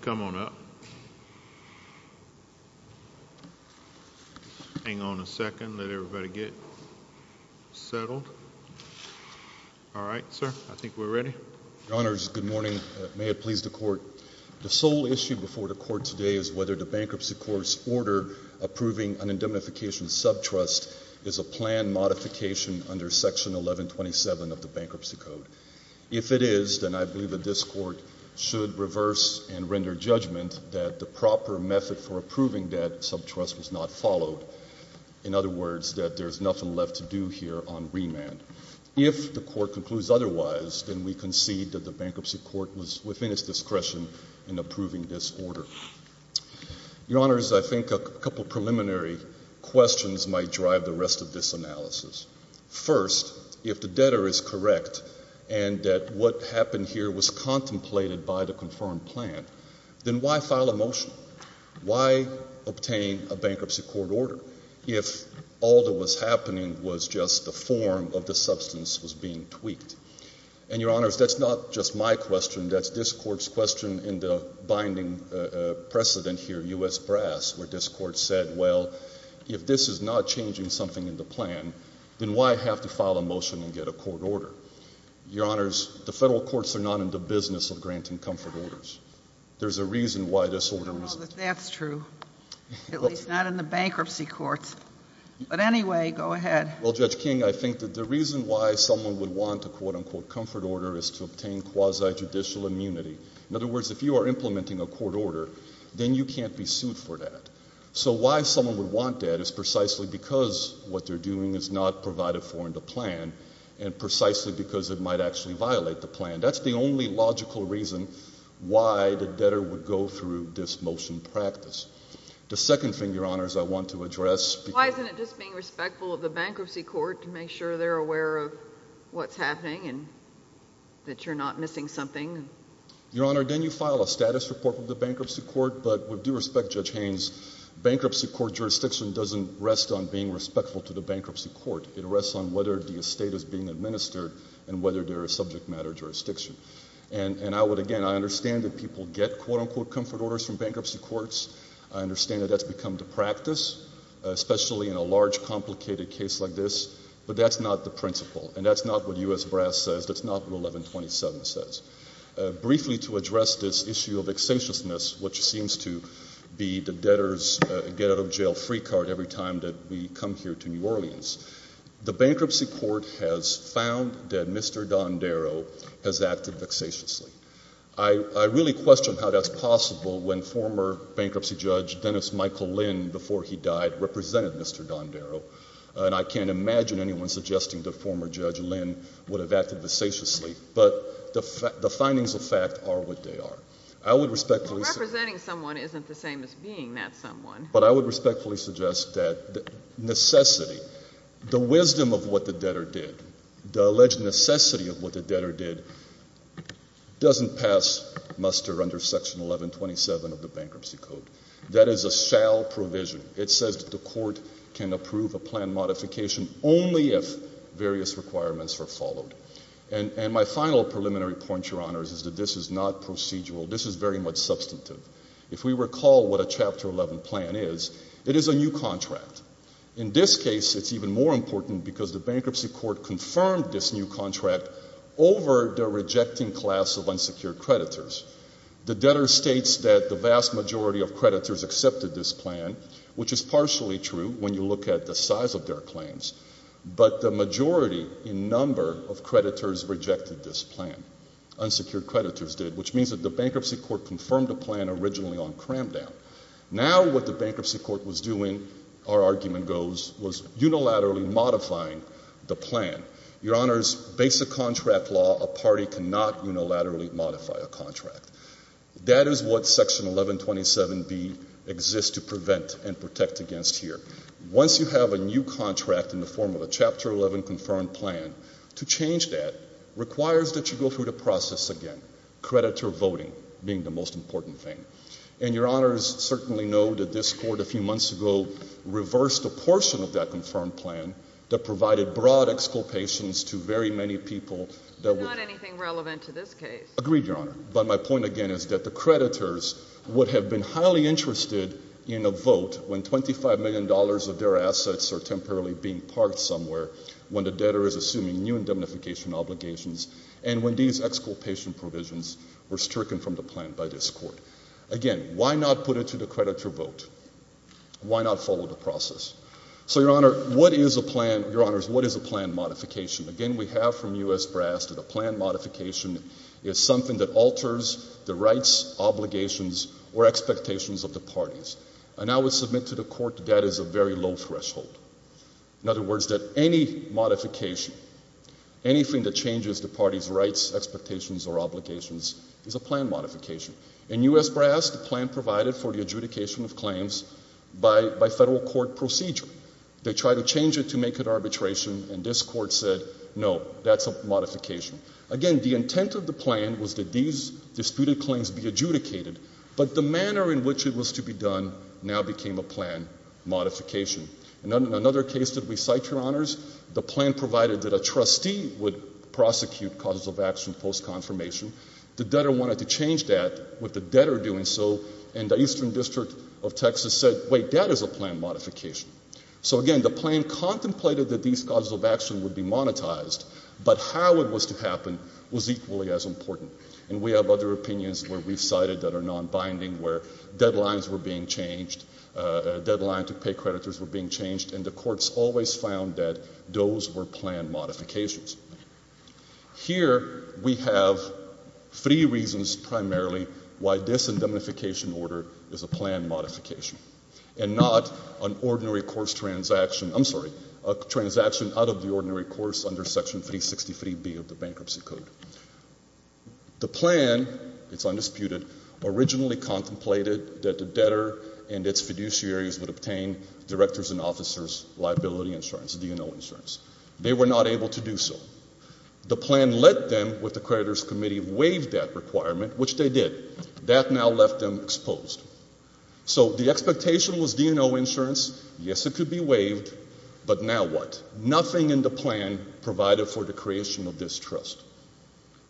Come on up. Hang on a second. Let everybody get settled. All right, sir. I think we're ready. Your Honors, good morning. May it please the Court. The sole issue before the Court today is whether the Bankruptcy Court's order approving an indemnification subtrust is a plan modification under Section 1127 of the Bankruptcy Code. If it is, then I believe that this Court should reverse and render judgment that the proper method for approving that subtrust was not followed. In other words, that there's nothing left to do here on remand. If the Court concludes otherwise, then we concede that the Bankruptcy Court was within its discretion in approving this order. Your Honors, I think a couple preliminary questions might drive the rest of this analysis. First, if the debtor is correct and that what happened here was contemplated by the confirmed plan, then why file a motion? Why obtain a Bankruptcy Court order if all that was happening was just the form of the substance was being tweaked? And Your Honors, that's not just my question. That's this Court's question in the binding precedent here, U.S. Brass, where this Court said, well, if this is not changing something in the plan, then why have to file a motion and get a court order? Your Honors, the Federal Courts are not in the business of granting comfort orders. There's a reason why this order wasn't. I don't know that that's true, at least not in the Bankruptcy Courts. But anyway, go ahead. Well, Judge King, I think that the reason why someone would want a quote-unquote comfort order is to obtain quasi-judicial immunity. In other words, if you are implementing a court order, then you can't be sued for that. So why someone would want that is precisely because what they're doing is not provided for in the plan and precisely because it might actually violate the plan. That's the only logical reason why the debtor would go through this motion practice. The second thing, Your Honors, I want to address. Why isn't it just being respectful of the Bankruptcy Court to make sure they're aware of what's happening and that you're not missing something? Your Honor, then you file a status report with the Bankruptcy Court, but with due respect, Judge Haynes, Bankruptcy Court jurisdiction doesn't rest on being respectful to the Bankruptcy Court. It rests on whether the estate is being administered and whether there is subject matter jurisdiction. And I would, again, I understand that people get quote-unquote comfort orders from Bankruptcy Courts. I understand that that's become the practice, especially in a large, complicated case like this. But that's not the principle. And that's not what U.S. Brass says. That's not what 1127 says. Briefly to address this issue of excentiousness, which seems to be the debtor's get-out-of-jail-free card every time that we come here to New Orleans, the Bankruptcy Court has found that Mr. Dondero has acted vexatiously. I really question how that's possible when former Bankruptcy Judge Dennis Michael Lynn, before he died, represented Mr. Dondero. And I can't imagine anyone suggesting that former Judge Lynn would have acted vexatiously. But the findings of fact are what they are. I would respectfully suggest... Well, representing someone isn't the same as being that someone. But I would respectfully suggest that necessity, the wisdom of what the debtor did, the alleged necessity of what the debtor did, doesn't pass muster under Section 1127 of the Bankruptcy Code. That is a shall provision. It says that the Court can approve a plan modification only if various requirements are followed. And my final preliminary point, Your Honors, is that this is not procedural. This is very much substantive. If we recall what a Chapter 11 plan is, it is a new contract. In this case, it's even more important because the Bankruptcy Court confirmed this new contract over the rejecting class of unsecured creditors. The debtor states that the vast majority of creditors accepted this plan, which is partially true when you look at the size of their claims. But the majority, in number, of creditors rejected this plan. Unsecured creditors did, which means that the Bankruptcy Court confirmed the plan originally on cram down. Now what the Bankruptcy Court was doing, our argument goes, was unilaterally modifying the plan. Your Honors, basic contract law, a party cannot unilaterally modify a contract. That is what Section 1127B exists to prevent and protect against here. Once you have a new contract in the form of a Chapter 11 confirmed plan, to change that requires that you go through the process again, creditor voting being the most important thing. And Your Honors certainly know that this Court a few months ago reversed a portion of that confirmed plan that provided broad exculpations to very many people that were- It's not anything relevant to this case. Agreed, Your Honor. But my point again is that the creditors would have been highly interested in a vote when $25 million of their assets are temporarily being parked somewhere, when the debtor is assuming new indemnification obligations, and when these exculpation provisions were stricken from the plan by this Court. Again, why not put it to the creditor vote? Why not follow the process? So Your Honor, what is a plan- Your Honors, what is a plan modification? Again, we have from U.S. brass that a plan modification is something that alters the rights, obligations, or expectations of the parties. And I would submit to the Court that that is a very low threshold. In other words, that any modification, anything that changes the parties' rights, expectations, or obligations is a plan modification. In U.S. brass, the plan provided for the adjudication of claims by federal court procedure. They tried to change it to make it arbitration, and this Court said, no, that's a modification. Again, the intent of the plan was that these disputed claims be adjudicated, but the manner in which it was to be done now became a plan modification. In another case that we cite, Your Honors, the plan provided that a trustee would prosecute causes of action post-confirmation. The debtor wanted to change that with the debtor doing so, and the Eastern District of Texas said, wait, that is a plan modification. So again, the plan contemplated that these causes of action would be monetized, but how it was to happen was equally as important. And we have other opinions where we've cited that are non-binding, where deadlines were being changed, deadline to pay creditors were being changed, and the courts always found that those were plan modifications. Here we have three reasons primarily why this indemnification order is a plan modification, and not an ordinary course transaction, I'm sorry, a transaction out of the ordinary course under Section 363B of the Bankruptcy Code. The plan, it's undisputed, originally contemplated that the debtor and its fiduciaries would obtain directors and officers' liability insurance, D&O insurance. They were not able to do so. The plan let them, with the creditors' committee, waive that requirement, which they did. That now left them exposed. So the expectation was D&O insurance, yes, it could be waived, but now what? Nothing in the plan provided for the creation of this trust.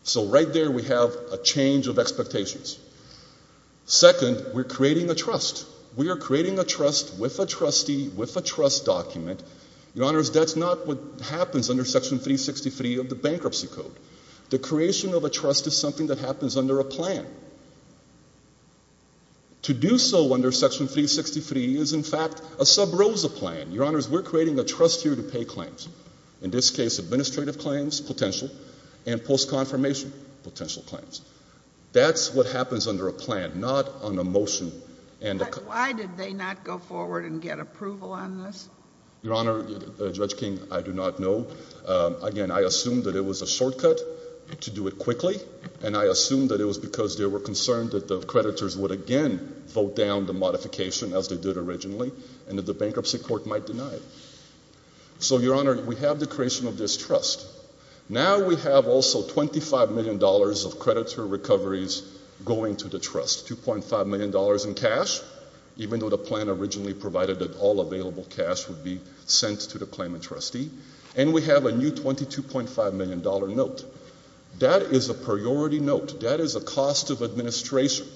So right there we have a change of expectations. Second, we're creating a trust. We are creating a trust with a trustee, with a trust document. Your Honors, that's not what happens under Section 363 of the Bankruptcy Code. The creation of a trust is something that happens under a plan. To do so under Section 363 is in fact a sub rosa plan. Your Honors, we're creating a trust here to pay claims, in this case administrative claims, potential, and post-confirmation potential claims. That's what happens under a plan, not on a motion. But why did they not go forward and get approval on this? Your Honor, Judge King, I do not know. Again, I assume that it was a shortcut to do it quickly, and I assume that it was because they were concerned that the creditors would again vote down the modification as they did originally, and that the Bankruptcy Court might deny it. So Your Honors, that's the creation of this trust. Now we have also $25 million of creditor recoveries going to the trust. $2.5 million in cash, even though the plan originally provided that all available cash would be sent to the claimant trustee. And we have a new $22.5 million note. That is a priority note. That is a cost of administration.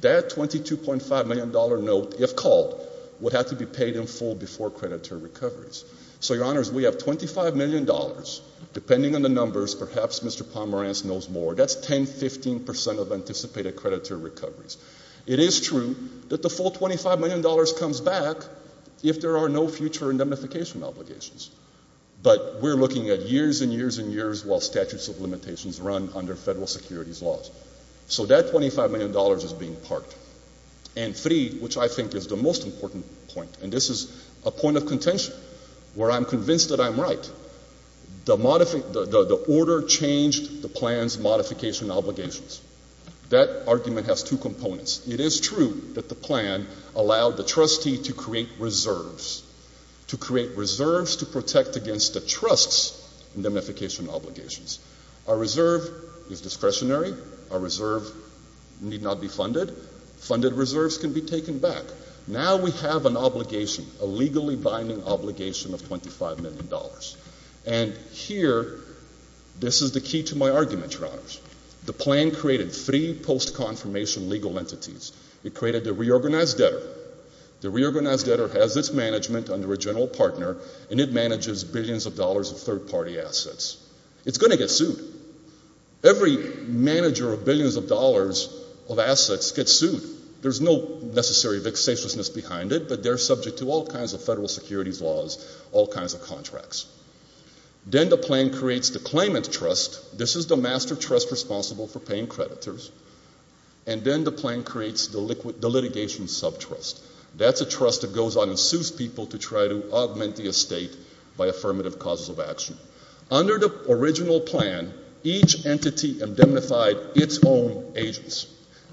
That $22.5 million note, if called, would have to be paid in full before creditor recoveries. So Your Honors, we have $25 million. Depending on the numbers, perhaps Mr. Pomerantz knows more. That's 10, 15 percent of anticipated creditor recoveries. It is true that the full $25 million comes back if there are no future indemnification obligations. But we're looking at years and years and years while statutes of limitations run under federal securities laws. So that $25 million is being parked. And three, which I think is the most important point, and this is a point of contention, where I'm convinced that I'm right. The order changed the plan's modification obligations. That argument has two components. It is true that the plan allowed the trustee to create reserves, to create reserves to protect against the trust's indemnification obligations. A reserve is discretionary. A reserve need not be funded. Funded reserves can be taken back. Now we have an obligation, a legally binding obligation of $25 million. And here, this is the key to my argument, Your Honors. The plan created three post-confirmation legal entities. It created the reorganized debtor. The reorganized debtor has its management under a general partner, and it manages billions of dollars of third-party assets. It's going to get sued. Every manager of billions of dollars of assets gets sued. There's no necessary vexatiousness behind it, but they're subject to all kinds of federal securities laws, all kinds of contracts. Then the plan creates the claimant trust. This is the master trust responsible for paying creditors. And then the plan creates the litigation subtrust. That's a trust that goes on and sues people to try to augment the estate by affirmative causes of action. Under the original plan, each entity indemnified its own agents.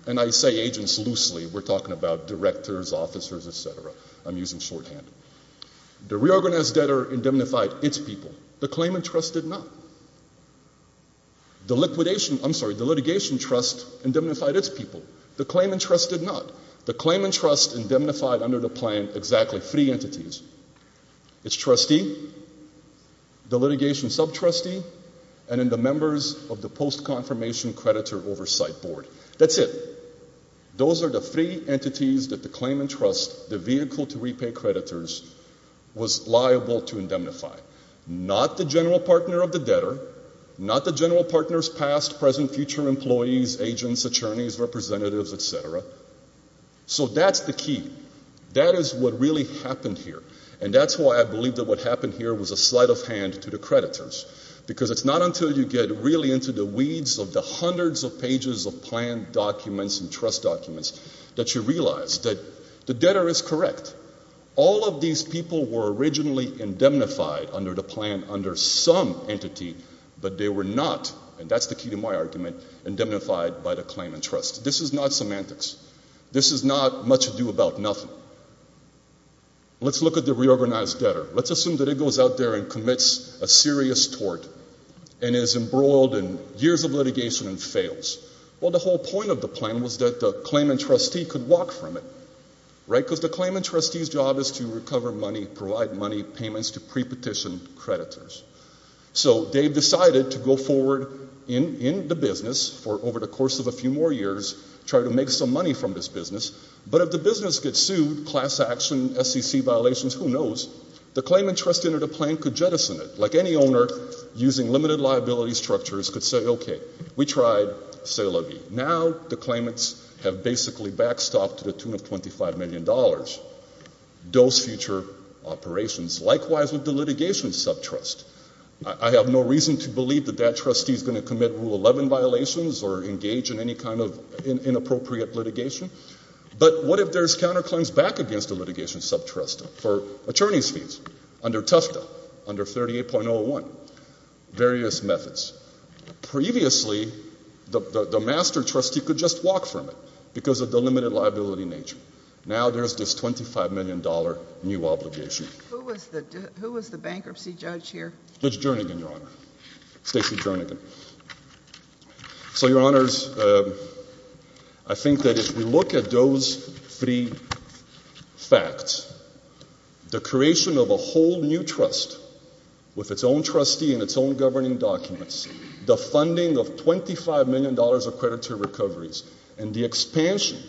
And I say agents loosely. We're talking about directors, officers, etc. I'm using shorthand. The reorganized debtor indemnified its people. The claimant trust did not. The litigation trust indemnified its people. The claimant trust did not. The claimant trust indemnified under the plan exactly three entities. Its trustee, the litigation subtrustee, and then members of the post-confirmation creditor oversight board. That's it. Those are the three entities that the claimant trust, the vehicle to repay creditors, was liable to indemnify. Not the general partner of the debtor, not the general partner's past, present, future employees, agents, attorneys, representatives, etc. So that's the key. That is what really happened here. And that's why I believe that what happened here was a sleight of hand to creditors. Because it's not until you get really into the weeds of the hundreds of pages of plan documents and trust documents that you realize that the debtor is correct. All of these people were originally indemnified under the plan under some entity, but they were not, and that's the key to my argument, indemnified by the claimant trust. This is not semantics. This is not much ado about nothing. Let's look at the reorganized debtor. Let's assume that it goes out there and commits a serious tort, and is embroiled in years of litigation and fails. Well, the whole point of the plan was that the claimant trustee could walk from it, right? Because the claimant trustee's job is to recover money, provide money, payments to pre-petition creditors. So they decided to go forward in the business for over the course of a few more years, try to make some money from this business. But if the business gets sued, class action, SEC violations, who knows, the claimant trustee under the plan could jettison it. Like any owner, using limited liability structures could say, okay, we tried, c'est la vie. Now the claimants have basically backstopped to the tune of $25 million. Those future operations. Likewise with the litigation subtrust. I have no reason to believe that that trustee is going to commit Rule 11 violations or engage in any kind of inappropriate litigation. But what if there's counterclaims back against the litigation subtrust for attorney's fees under Tufta, under 38.01? Various methods. Previously, the master trustee could just walk from it because of the limited liability nature. Now there's this $25 million new obligation. Who was the bankruptcy judge here? Judge Jernigan, Your Honor. Stacey Jernigan. So, Your Honors, I think that if we look at those three facts, the creation of a whole new trust with its own trustee and its own governing documents, the funding of $25 million of credit to recoveries, and the expansion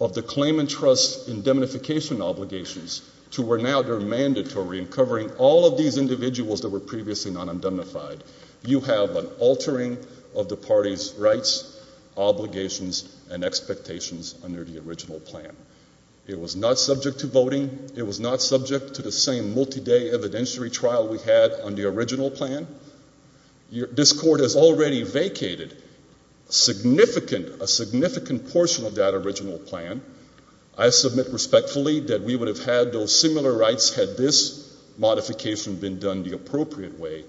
of the claimant trust indemnification obligations to where now they're mandatory and covering all of these individuals that were previously not indemnified, you have an altering of the party's rights, obligations, and expectations under the original plan. It was not subject to voting. It was not subject to the same multi-day evidentiary trial we had on the original plan. This Court has already vacated significant, a significant portion of that original plan. I submit respectfully that we would have had those similar rights had this modification been done the appropriate way,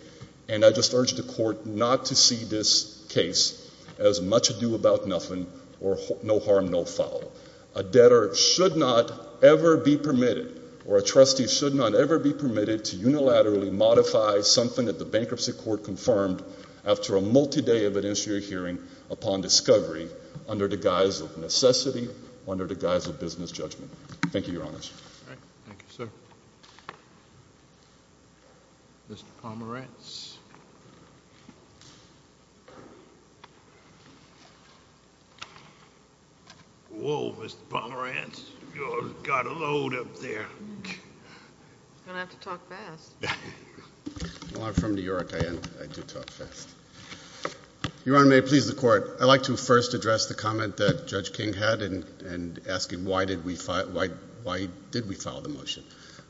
and I just urge the Court not to see this case as much ado about nothing or no harm, no foul. A debtor should not ever be permitted or a trustee should not ever be permitted to unilaterally modify something that the Bankruptcy Court confirmed after a multi-day evidentiary hearing upon discovery under the guise of necessity, under the guise of business judgment. Thank you, Your Honors. All right. Thank you, sir. Mr. Pomerantz. Whoa, Mr. Pomerantz. You've got a load up there. I'm going to have to talk fast. Well, I'm from New York. I do talk fast. Your Honor, may it please the Court, I'd like to first address the comment that Judge King had in asking why did we file the motion.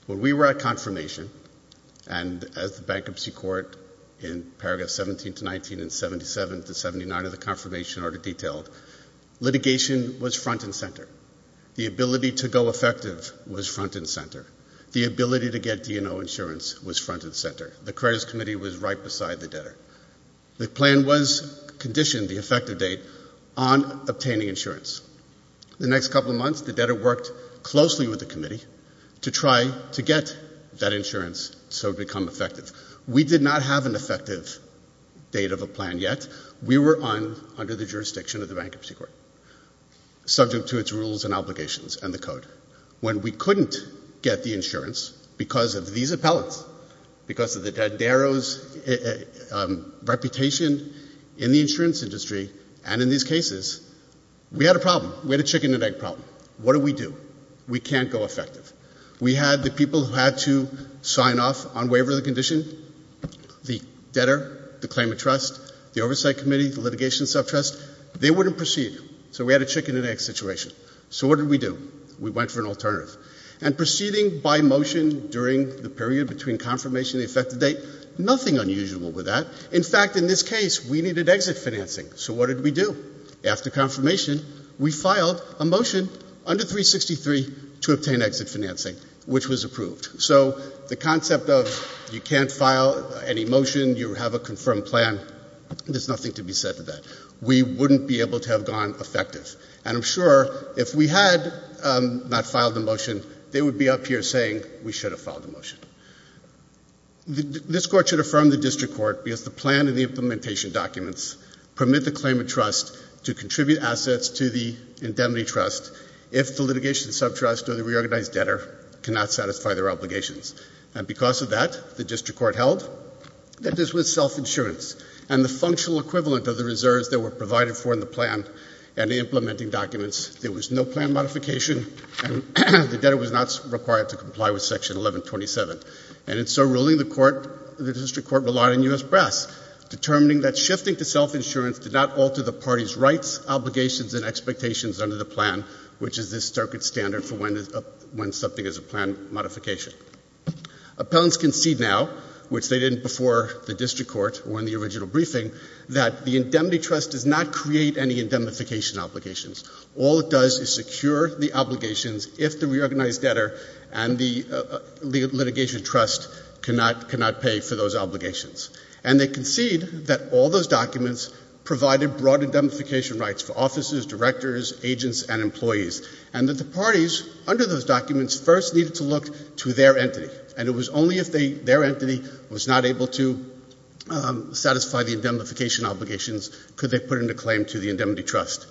Well, we were at confirmation, and as the Bankruptcy Court in paragraphs 17 to 19 and 77 to 79 of the confirmation order detailed, litigation was front and center. The ability to go effective was front and center. The ability to get D&O insurance was front and center. The credits committee was right beside the debtor. The effective date on obtaining insurance. The next couple of months, the debtor worked closely with the committee to try to get that insurance so it would become effective. We did not have an effective date of a plan yet. We were under the jurisdiction of the Bankruptcy Court, subject to its rules and obligations and the code. When we couldn't get the insurance because of these appellants, because of the debtor's reputation in the insurance industry and in these cases, we had a problem. We had a chicken and egg problem. What do we do? We can't go effective. We had the people who had to sign off on waiver of the condition, the debtor, the claimant trust, the oversight committee, the litigation subtrust. They wouldn't proceed. So we had a chicken and egg situation. So what did we do? We went for an alternative. And proceeding by motion during the period between confirmation and the effective date, nothing unusual with that. In fact, in this case, we needed exit financing. So what did we do? After confirmation, we filed a motion under 363 to obtain exit financing, which was approved. So the concept of you can't file any motion, you have a confirmed plan, there's nothing to be said to that. We wouldn't be able to have gone effective. And I'm sure if we had not filed the motion, they would be up here saying we should have filed the motion. This court should affirm the district court because the plan and the implementation documents permit the claimant trust to contribute assets to the indemnity trust if the litigation subtrust or the reorganized debtor cannot satisfy their obligations. And because of that, the district court held that this was self-insurance and the functional equivalent of the reserves that were provided for in the plan and the implementing documents. There was no plan modification, and the debtor was not required to comply with Section 1127. And in so ruling, the court, the district court relied on U.S. Press, determining that shifting to self-insurance did not alter the party's rights, obligations, and expectations under the plan, which is the circuit standard for when something is a plan modification. Appellants concede now, which they didn't before the district court or in the original briefing, that the indemnity trust does not create any indemnification obligations. All it does is secure the obligations if the reorganized debtor and the litigation trust cannot pay for those obligations. And they concede that all those documents provided broad indemnification rights for officers, directors, agents, and employees, and that the parties under those documents first needed to look to their entity, and it was only if their entity did not have the indemnification obligations could they put in a claim to the indemnity trust.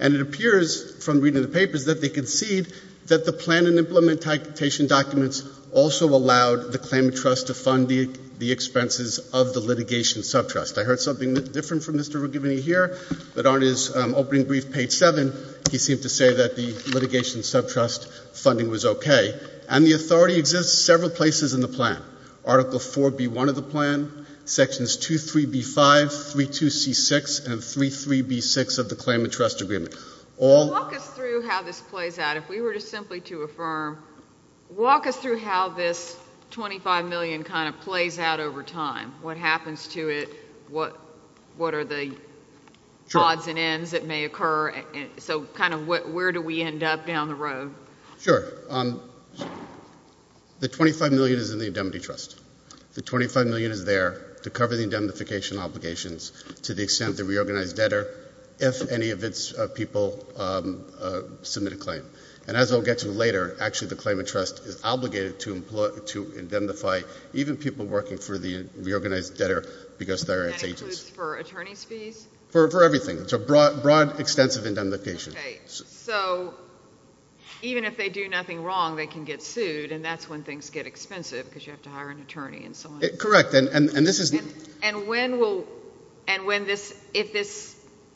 And it appears from reading the papers that they concede that the plan and implementation documents also allowed the claimant trust to fund the expenses of the litigation subtrust. I heard something different from Mr. Rugiboni here, but on his opening brief, page 7, he seemed to say that the litigation subtrust funding was okay. And the authority exists several places in the plan. Article 4B1 of the plan, Sections 2.3.B.5, 3.2.C.6, and 3.3.B.6 of the claimant trust agreement. Walk us through how this plays out. If we were to simply to affirm, walk us through how this $25 million kind of plays out over time. What happens to it? What are the odds and ends that may occur? So kind of where do we end up down the road? Sure. The $25 million is in the indemnity trust. The $25 million is there to cover the indemnification obligations to the extent the reorganized debtor, if any of its people submit a claim. And as I'll get to later, actually the claimant trust is obligated to indemnify even people working for the reorganized debtor because they're its agents. For attorneys fees? For everything. It's a broad, extensive indemnification. Okay. So even if they do nothing wrong, they can get sued and that's when things get expensive because you have to hire an attorney and so on. Correct. And this is...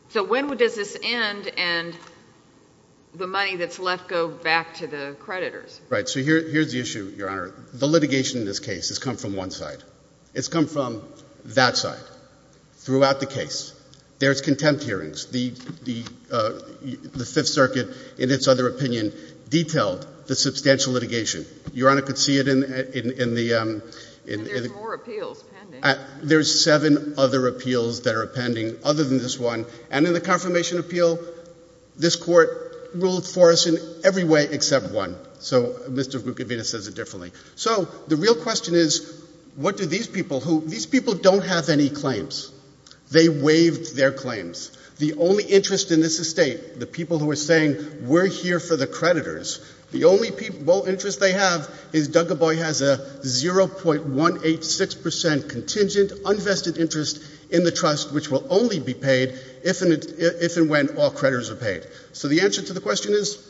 So when does this end and the money that's left go back to the creditors? Right. So here's the issue, Your Honor. The litigation in this case has come from one side. It's come from that side throughout the case. There's contempt hearings. The Fifth Circuit, in its other opinion, detailed the substantial litigation. Your Honor could see it in the... And there's more appeals pending. There's seven other appeals that are pending other than this one. And in the confirmation appeal, this court ruled for us in every way except one. So Mr. Guquevina says it differently. So the real question is, what do these people who... These people don't have any claims. They waived their claims. The only interest in this estate, the people who are saying we're here for the creditors, the only interest they have is Duggaboy has a 0.186% contingent, unvested interest in the settlement. So the answer to the question is,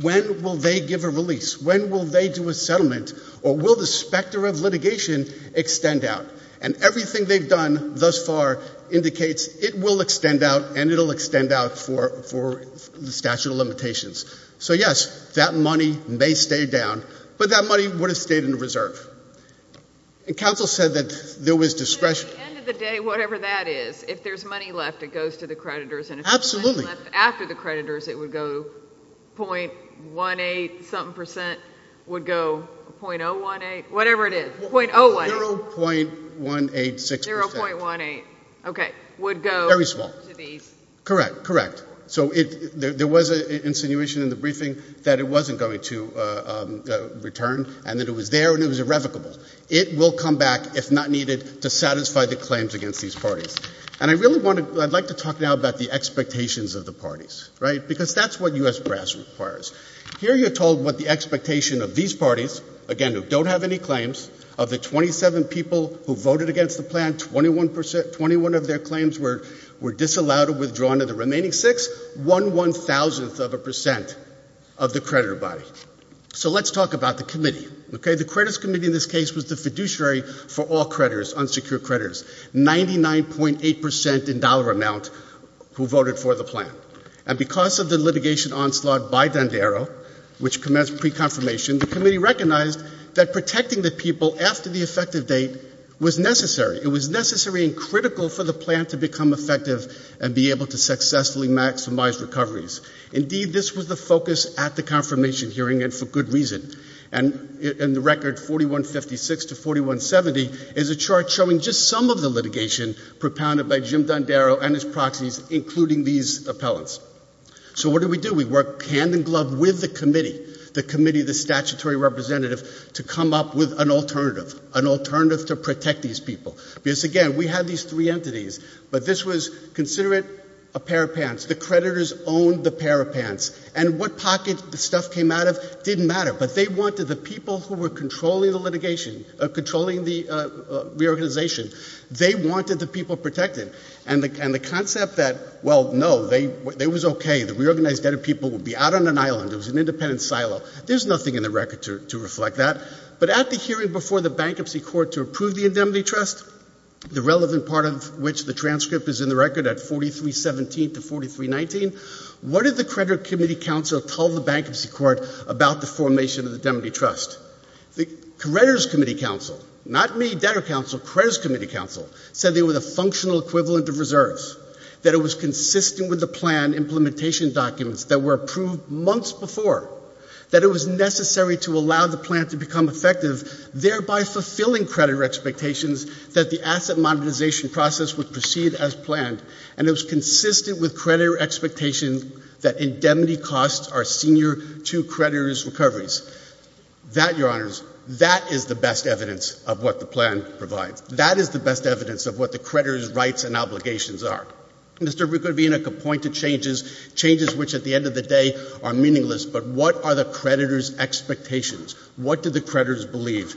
when will they give a release? When will they do a settlement? Or will the specter of litigation extend out? And everything they've done thus far indicates it will extend out and it will extend out for the statute of limitations. So yes, that money may stay down, but that money would have stayed in reserve. And counsel said that there was discretion... At the end of the day, whatever that is, if there's money left, it goes to the creditors. Absolutely. And if there's money left after the creditors, it would go 0.18 something percent, would go 0.018, whatever it is. 0.018. 0.186%. 0.18. Okay. Would go to these. Very small. Correct. Correct. So there was an insinuation in the briefing that it wasn't going to go to these parties. And I'd like to talk now about the expectations of the parties. Because that's what U.S. brass requires. Here you're told what the expectation of these parties, again, who don't have any claims, of the 27 people who voted against the plan, 21% of their claims were disallowed or withdrawn of the remaining 6, 1,000th of a percent of the creditor body. So let's talk about the 99.8% in dollar amount who voted for the plan. And because of the litigation onslaught by Dandero, which commenced pre-confirmation, the committee recognized that protecting the people after the effective date was necessary. It was necessary and critical for the plan to become effective and be able to successfully maximize recoveries. Indeed, this was the focus at the confirmation hearing, and for good reason. And in the record, 4156 to 4170 is a chart showing just some of the litigation propounded by Jim Dandero and his proxies, including these appellants. So what did we do? We worked hand in glove with the committee, the committee of the statutory representative, to come up with an alternative, an alternative to protect these people. Because, again, we had these three entities, but this was, consider it, a pair of pants. The creditors owned the pair of pants. And what pocket the stuff came out of didn't matter. But they wanted the people who were controlling the litigation, controlling the reorganization, they wanted the people protected. And the concept that, well, no, it was okay. The reorganized debtor people would be out on an island. It was an independent silo. There's nothing in the record to reflect that. But at the hearing before the Bankruptcy Court to approve the 319, what did the creditor committee council tell the Bankruptcy Court about the formation of the Demody Trust? The creditors' committee council, not me, debtor council, creditors' committee council, said they were the functional equivalent of reserves, that it was consistent with the plan implementation documents that were approved months before, that it was necessary to allow the plan to become effective, thereby fulfilling creditor expectations that the asset monetization process would proceed as planned, and it was consistent with creditor expectations that indemnity costs are senior to creditors' recoveries. That, Your Honors, that is the best evidence of what the plan provides. That is the best evidence of what the creditors' rights and obligations are. Mr. Bukovina could point to changes, changes which at the end of the day are meaningless, but what are the creditors' expectations? What do the creditors believe?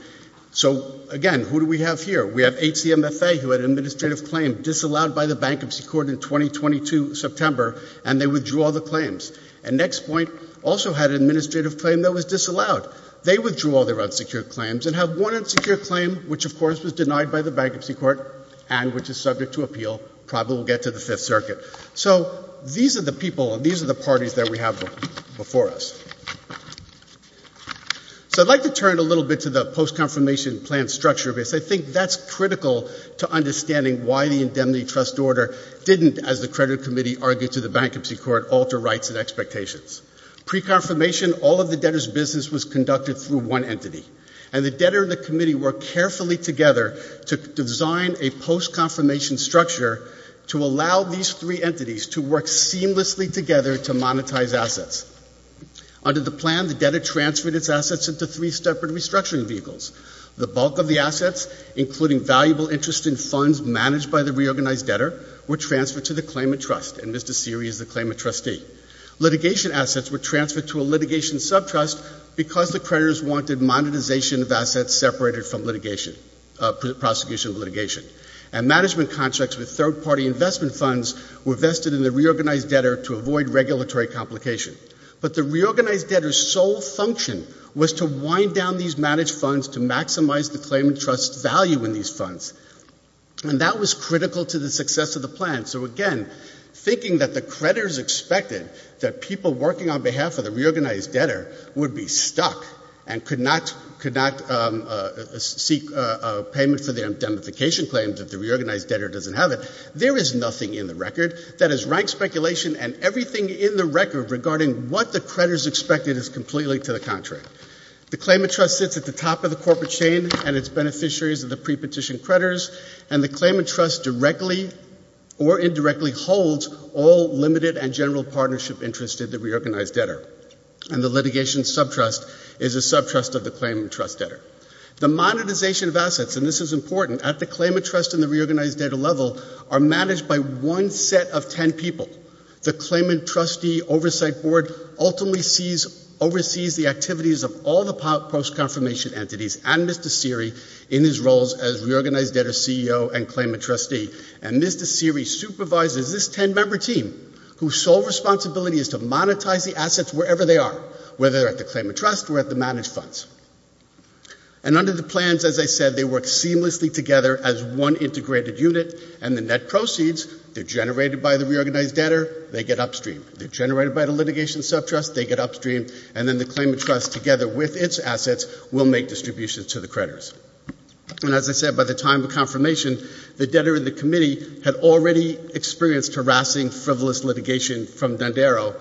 So, again, who do we have here? We have HCMFA, who had an administrative claim disallowed by the Bankruptcy Court in 2022 September, and they withdrew all the claims. And NextPoint also had an administrative claim that was disallowed. They withdrew all their unsecured claims and have one unsecured claim which, of course, was denied by the Bankruptcy Court and which is subject to appeal, probably will get to the Fifth Circuit. So these are the people and these are the parties that we have before us. So I'd like to turn a little bit to the post-confirmation plan structure of this. I think that's critical to understanding why the indemnity trust order didn't, as the credit committee argued to the Bankruptcy Court, alter rights and expectations. Pre-confirmation, all of the debtors' business was conducted through one entity, and the debtor and the committee worked carefully together to design a post-confirmation structure to allow these three entities to work seamlessly together to monetize assets. Under the plan, the debtor transferred its assets into three separate restructuring vehicles. The bulk of the assets, including valuable interest in funds managed by the reorganized debtor, were transferred to the claimant trust, and Mr. Seery is the claimant trustee. Litigation assets were transferred to a litigation subtrust because the creditors wanted monetization of assets separated from litigation, prosecution of litigation. And management contracts with third-party investment funds were vested in the reorganized debtor to avoid regulatory complication. But the reorganized debtor's sole function was to wind down these managed funds to maximize the claimant trust's value in these funds, and that was critical to the success of the plan. So again, thinking that the creditors expected that people working on behalf of the reorganized debtor would be stuck and could not seek payment for their indemnification claims if the reorganized debtor doesn't have it, there is nothing in the record that has ranked speculation and everything in the record regarding what the creditors expected is completely to the contrary. The claimant trust sits at the top of the corporate chain and its beneficiaries are the prepetition creditors, and the claimant trust directly or indirectly holds all limited and general partnership interests of the reorganized debtor. And the litigation subtrust is a subtrust of the claimant trust debtor. The monetization of assets, and this is important, at the claimant trust and the reorganized debtor level are managed by one set of ten people. The claimant trustee oversight board ultimately oversees the activities of all the post-confirmation entities and Mr. Seery in his roles as reorganized debtor CEO and claimant trustee, and Mr. Seery supervises this ten-member team whose sole responsibility is to monetize the assets wherever they are, whether they're at the claimant trust or at the managed funds. And under the plans, as I said, they work seamlessly together as one integrated unit, and the net proceeds, they're generated by the reorganized subtrust, they get upstream, and then the claimant trust, together with its assets, will make distributions to the creditors. And as I said, by the time of confirmation, the debtor in the committee had already experienced harassing, frivolous litigation from Dondero,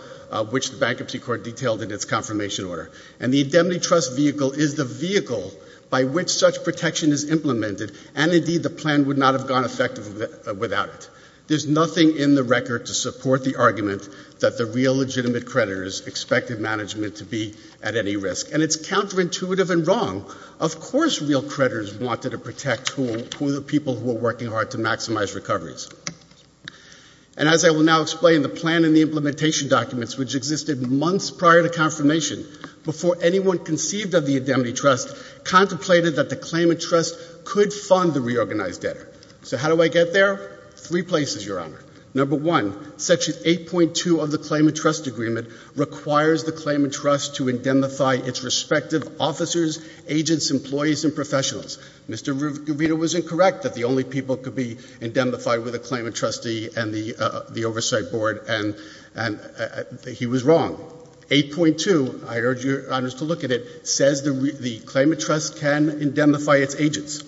which the bankruptcy court detailed in its confirmation order. And the indemnity trust vehicle is the vehicle by which such protection is implemented, and indeed the plan would not have gone effective without it. There's nothing in the record to support the argument that the real legitimate creditors expected management to be at any risk. And it's counterintuitive and wrong. Of course real creditors wanted to protect who the people who were working hard to maximize recoveries. And as I will now explain, the plan and the implementation documents, which existed months prior to confirmation, before anyone conceived of the indemnity trust, contemplated that the claimant trust could fund the reorganized debtor. So how do I get there? Three places, Your Honor. Number one, section 8.2 of the claimant trust agreement requires the claimant trust to indemnify its respective officers, agents, employees, and professionals. Mr. Rito was incorrect that the only people could be indemnified were the claimant trustee and the oversight board, and he was wrong. Section 8.2, I urge Your Honors to look at it, says the claimant trust can indemnify its agents.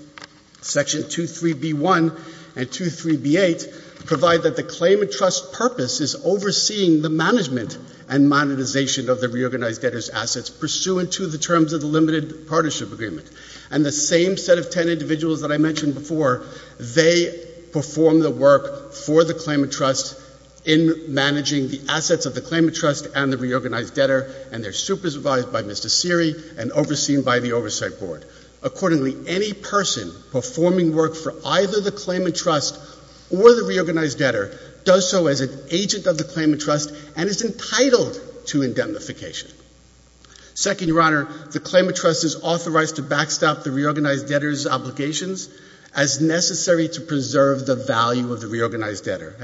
Section 23B1 and 23B8 provide that the claimant trust purpose is overseeing the management and monetization of the reorganized debtor's assets pursuant to the terms of the limited partnership agreement. And the same set of ten individuals that I mentioned before, they perform the work for the claimant trust in managing the assets of the claimant trust and the reorganized debtor, and they're supervised by Mr. Seery and overseen by the oversight board. Accordingly, any person performing work for either the claimant trust or the reorganized debtor does so as an agent of the claimant trust and is entitled to indemnification. Second, Your Honor, the claimant trust is authorized to backstop the reorganized debtor's obligations as necessary to preserve the value of the reorganized debtor.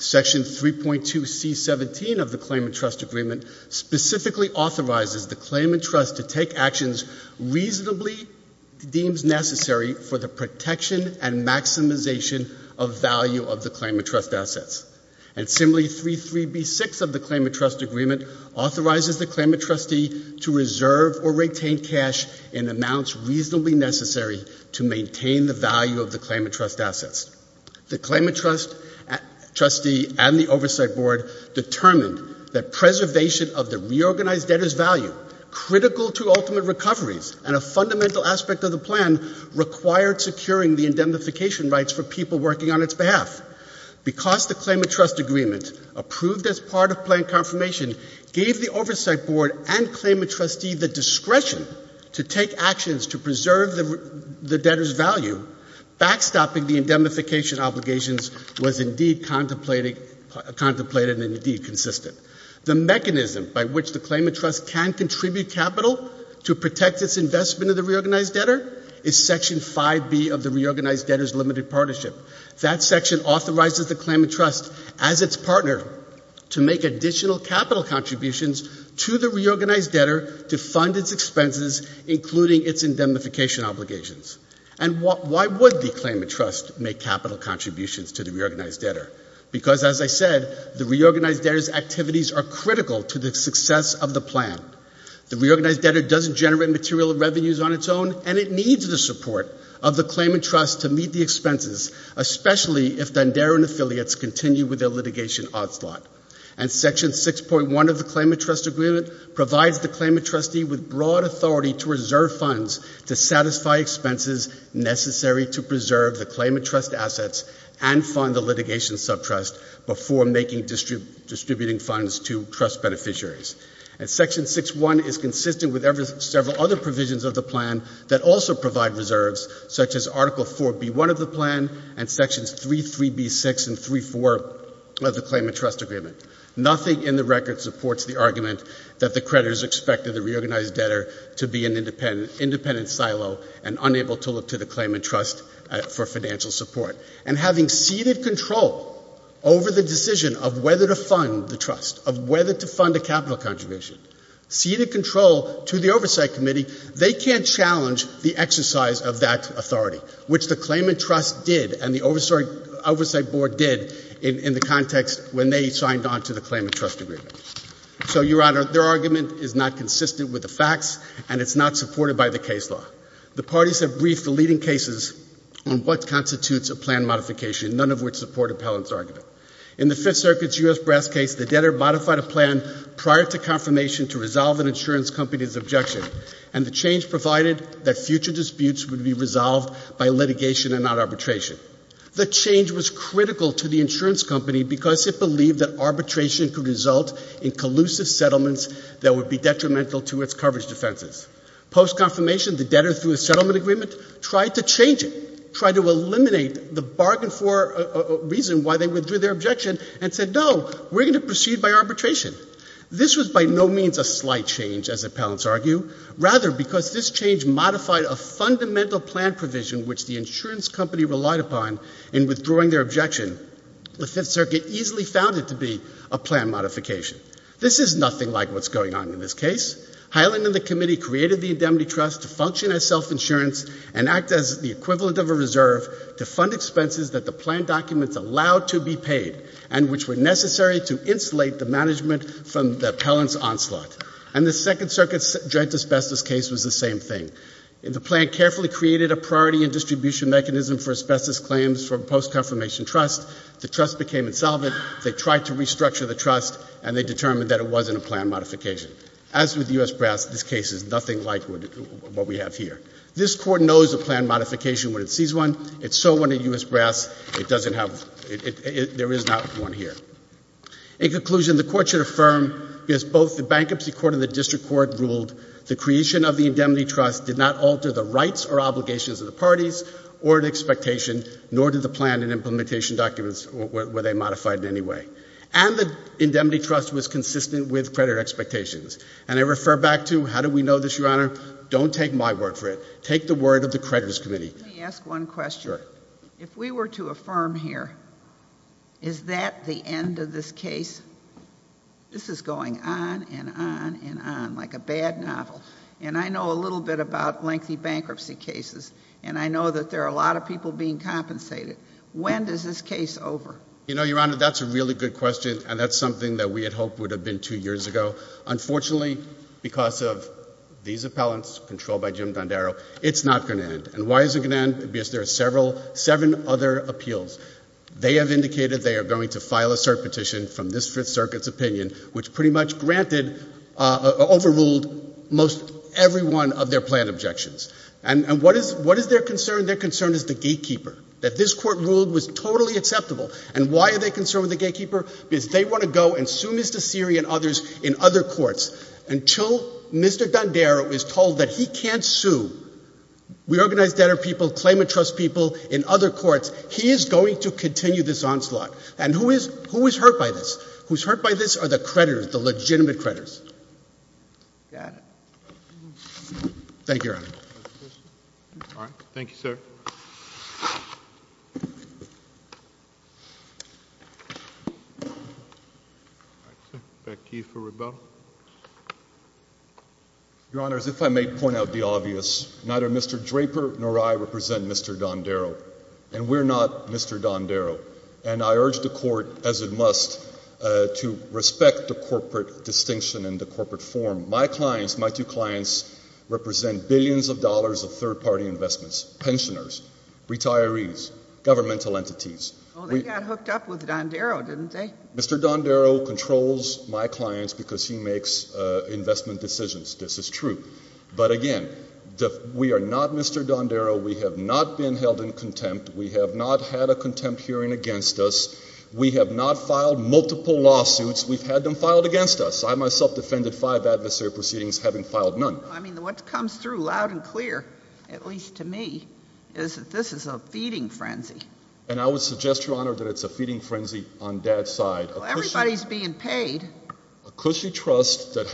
Section 3.2C17 of the claimant trust agreement specifically authorizes the claimant trust to take actions reasonably deemed necessary for the protection and maximization of value of the claimant trust assets. And Assembly 33B6 of the claimant trust agreement authorizes the claimant trustee to reserve or retain cash in amounts reasonably necessary to maintain the value of the claimant trust assets. The claimant trustee and the oversight board determined that preservation of the reorganized debtor's value, critical to ultimate recoveries and a fundamental aspect of the plan, required securing the indemnification rights for people working on its behalf. Because the claimant trust agreement approved as part of plan confirmation gave the oversight board and claimant trustee the discretion to take actions to preserve the debtor's value, backstopping the indemnification obligations was indeed contemplated and indeed consistent. The mechanism by which the claimant trust can contribute capital to protect its investment of the reorganized debtor is Section 5B of the reorganized debtor's limited partnership. That section authorizes the claimant trust as its partner to make additional capital contributions to the reorganized debtor to fund its expenses, including its indemnification obligations. And why would the claimant trust make capital contributions to the reorganized debtor? Because as I said, the reorganized debtor's activities are critical to the success of the plan. The reorganized debtor doesn't generate material revenues on its own and it needs the support of the claimant trust to meet the expenses, especially if Dunderin affiliates continue with their litigation onslaught. And Section 6.1 of the claimant trust agreement provides the claimant trustee with broad authority to reserve funds to satisfy expenses necessary to preserve the claimant trust assets and fund the litigation subtrust before making distributing funds to trust beneficiaries. And Section 6.1 is consistent with several other provisions of the plan that also provide reserves, such as Article 4.B.1 of the plan and Sections 3.3.B.6 and 3.4 of the claimant trust agreement. Nothing in the record supports the argument that the creditors expected the reorganized debtor to be an independent silo and unable to look to the claimant trust for financial support. And having ceded control over the decision of whether to fund the trust, of whether to fund a capital contribution, ceded control to the oversight committee, they can't challenge the exercise of that authority, which the claimant trust did and the oversight board did in the context when they signed on to the claimant trust agreement. So, Your Honor, their argument is not consistent with the facts and it's not supported by the case law. The parties have briefed the leading cases on what constitutes a plan modification, none of which support Appellant's argument. In the Fifth Circuit's U.S. Brass case, the debtor modified a plan prior to confirmation to resolve an insurance company's objection, and the change provided that future disputes would be resolved by litigation and not arbitration. The change was critical to the insurance company because it believed that arbitration could result in collusive settlements that would be detrimental to its coverage defenses. Post-confirmation, the parties argued for a reason why they withdrew their objection and said, no, we're going to proceed by arbitration. This was by no means a slight change, as Appellants argue. Rather, because this change modified a fundamental plan provision which the insurance company relied upon in withdrawing their objection, the Fifth Circuit easily found it to be a plan modification. This is nothing like what's going on in this case. Highland and the committee created the indemnity trust to function as self-insurance and act as the equivalent of a reserve to fund expenses that the plan documents allowed to be paid and which were necessary to insulate the management from Appellant's onslaught. And the Second Circuit's joint asbestos case was the same thing. The plan carefully created a priority and distribution mechanism for asbestos claims for post-confirmation trust. The trust became insolvent. They tried to restructure the trust, and they failed to do so. In conclusion, the Court should affirm, as both the Bankruptcy Court and the District Court ruled, the creation of the indemnity trust did not alter the rights or obligations of the parties or an expectation, nor did the plan and implementation documents, were they modified in any way. And the indemnity trust was consistent with credit expectations. And I refer back to, how do we know this, Your Honor? Don't take my word for it. Take the word of the creditors' committee. Let me ask one question. Sure. If we were to affirm here, is that the end of this case? This is going on and on and on like a bad novel. And I know a little bit about lengthy bankruptcy cases. And I know that there are a lot of people being compensated. When is this case over? You know, Your Honor, that's a really good question, and that's something that we had hoped would have happened two years ago. Unfortunately, because of these appellants, controlled by Jim Dondaro, it's not going to end. And why is it going to end? Because there are several, seven other appeals. They have indicated they are going to file a cert petition from this Fifth Circuit's opinion, which pretty much granted, overruled most every one of their planned objections. And what is their concern? Their concern is the gatekeeper, that this Court ruled was totally acceptable. And why are they going to continue this onslaught? And who is hurt by this? Who is hurt by this are the creditors, the legitimate creditors. Mr. Dondaro? Your Honor, as if I may point out the obvious, neither Mr. Draper nor I represent Mr. Dondaro. And we're not Mr. Dondaro. And I urge the Court, as it must, to respect the corporate distinction and the corporate form. My clients, my two clients, represent billions of dollars of third-party investments, pensioners, retirees, governmental entities. Well, they got hooked up with Dondaro, didn't they? Mr. Dondaro controls my clients because he makes investment decisions. This is true. But again, we are not Mr. Dondaro. We have not been held in contempt. We have not had a contempt hearing against us. We have not filed multiple lawsuits. We've had them filed against us. I myself defended five adversary proceedings, having filed none. Well, I mean, what comes through loud and clear, at least to me, is that this is a feeding frenzy. And I would suggest, Your Honor, that it's a feeding frenzy on Dad's side. Well, everybody's being paid. A cushy trust that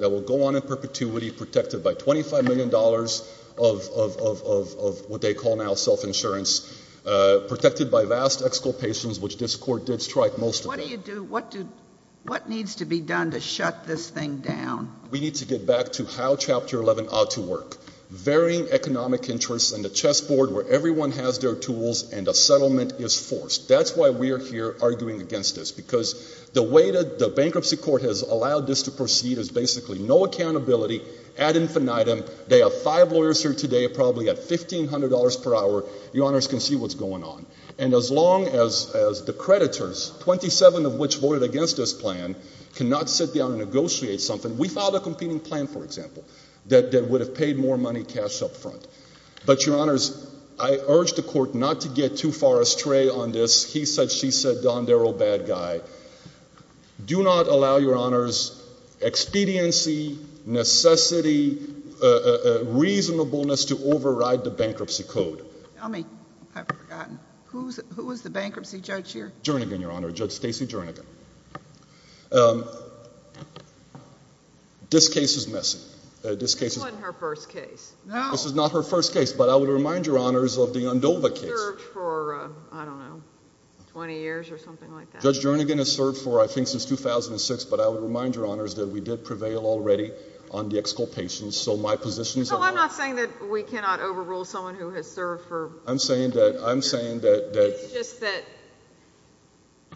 will go on in perpetuity, protected by $25 million of what they call now self-insurance, protected by vast exculpations, which this Court did strike most of. What do you do? What needs to be done to shut this thing down? We need to get back to how Chapter 11 ought to work. Varying economic interests and a chessboard where everyone has their tools and a settlement is forced. That's why we're here arguing against this, because the way that the bankruptcy court has allowed this to proceed is basically no accountability, ad infinitum. They have five lawyers here today, probably at $1,500 per hour. Your Honors can see what's going on. And as long as the creditors, 27 of which voted against this plan, cannot sit down and negotiate something. We filed a competing plan, for example, that would have paid more money cash up front. But, Your Honors, I urge the Court not to get too far astray on this. He said, she said, Don Darrow, bad guy. Do not allow, Your Honors, expediency, necessity, reasonableness to override the bankruptcy code. Tell me, I've forgotten. Who was the bankruptcy judge here? Jernigan, Your Honor. Judge Stacey Jernigan. This case is missing. This wasn't her first case. No. This is not her first case. But I would remind Your Honors of the Andova case. It served for, I don't know, 20 years or something like that. Judge Jernigan has served for, I think, since 2006. But I would remind Your Honors that we did prevail already on the exculpations. So my position is that... No, I'm not saying that we cannot overrule someone who has served for... I'm saying that, I'm saying that... It's just that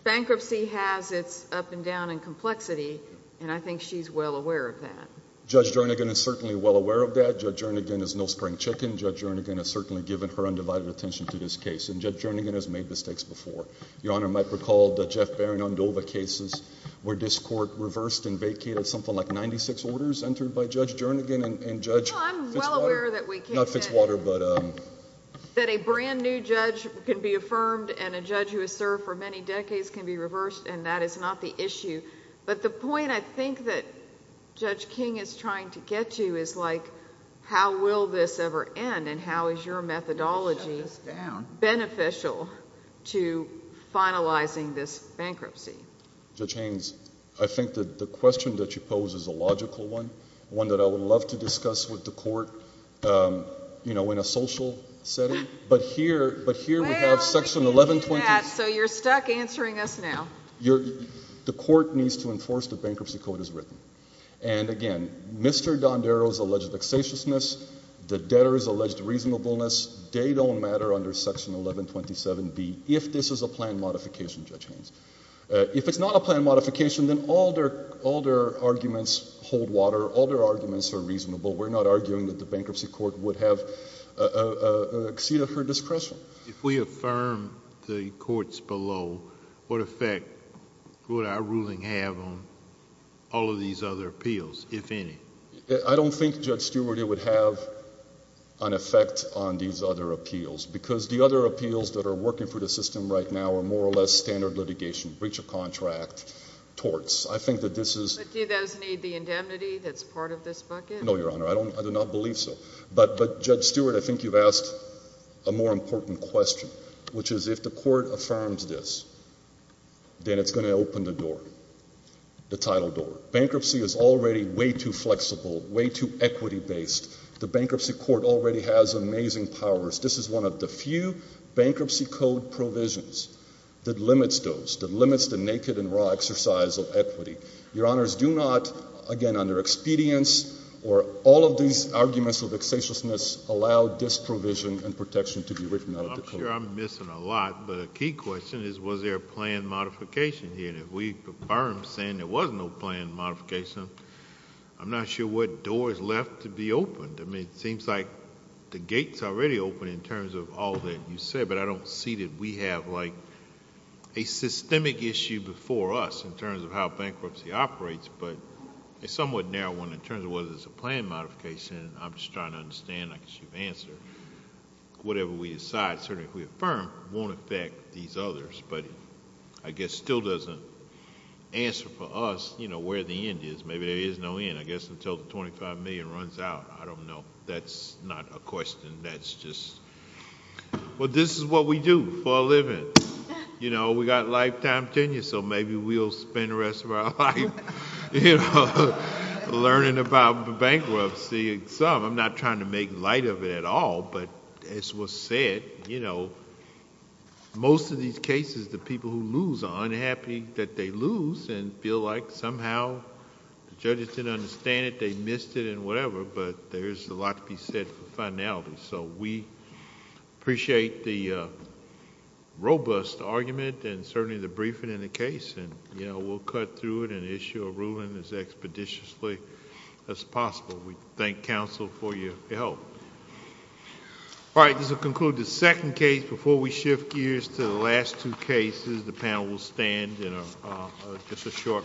bankruptcy has its up and down and complexity. And I think she's well aware of that. Judge Jernigan is certainly well aware of that. Judge Jernigan is no spring chicken. Judge Jernigan has certainly given her undivided attention to this case. And Judge Jernigan has made mistakes before. Your Honor might recall the Jeff Baron Andova cases where this court reversed and vacated something like 96 orders entered by Judge Jernigan and Judge Fitzwater. Well, I'm well aware that we can't... Not Fitzwater, but... That a brand new judge can be affirmed and a judge who has served for many decades can be reversed and that is not the issue. But the point I think that Judge King is trying to get to is like, how will this ever end and how is your methodology beneficial to finalizing this bankruptcy? Judge Haines, I think that the question that you pose is a logical one. One that I would love to discuss with the court, you know, in a social setting. But here we have Section 1120... Well, we can do that, so you're stuck answering us now. The court needs to enforce the bankruptcy code as written. And again, Mr. Dondero's alleged vexatiousness, the debtor's alleged reasonableness, they don't matter under Section 1127B if this is a plan modification, Judge Haines. If it's not a plan modification, then all their arguments hold water. All their arguments are reasonable. We're not arguing that the bankruptcy court would have what our ruling have on all of these other appeals, if any. I don't think, Judge Stewart, it would have an effect on these other appeals because the other appeals that are working for the system right now are more or less standard litigation, breach of contract, torts. I think that this is... But do those need the indemnity that's part of this bucket? No, Your Honor. I do not believe so. But, Judge Stewart, I think you've asked a more important question, which is if the court affirms this, then it's going to open the door, the title door. Bankruptcy is already way too flexible, way too equity-based. The bankruptcy court already has amazing powers. This is one of the few bankruptcy code provisions that limits those, that limits the naked and raw exercise of equity. Your Honors, do not, again, under expedience or all of these arguments of vexatiousness allow this provision and protection to be written out of the code. I'm sure I'm missing a lot, but a key question is, was there a planned modification here? And if we affirm saying there was no planned modification, I'm not sure what door is left to be opened. I mean, it seems like the gate's already open in terms of all that you said, but I don't see that we have, like, a systemic issue before us in terms of how bankruptcy operates, but a somewhat narrow one in terms of whether there's a planned modification. I'm just trying to understand. Whatever we decide, certainly if we affirm, won't affect these others, but I guess still doesn't answer for us where the end is. Maybe there is no end, I guess, until the $25 million runs out. I don't know. That's not a question. That's just... Well, this is what we do for a living. We got lifetime tenure, so maybe we'll spend the rest of our life learning about bankruptcy. I'm not trying to make light of it at all, but as was said, most of these cases, the people who lose are unhappy that they lose and feel like somehow the judges didn't understand it, they missed it and whatever, but there's a lot to be said for finality. We appreciate the robust argument and certainly the briefing in the case, and we'll cut through it and issue a ruling as expeditiously as possible. We thank counsel for your help. All right, this will conclude the second case. Before we shift gears to the last two cases, the panel will stand in just a short recess.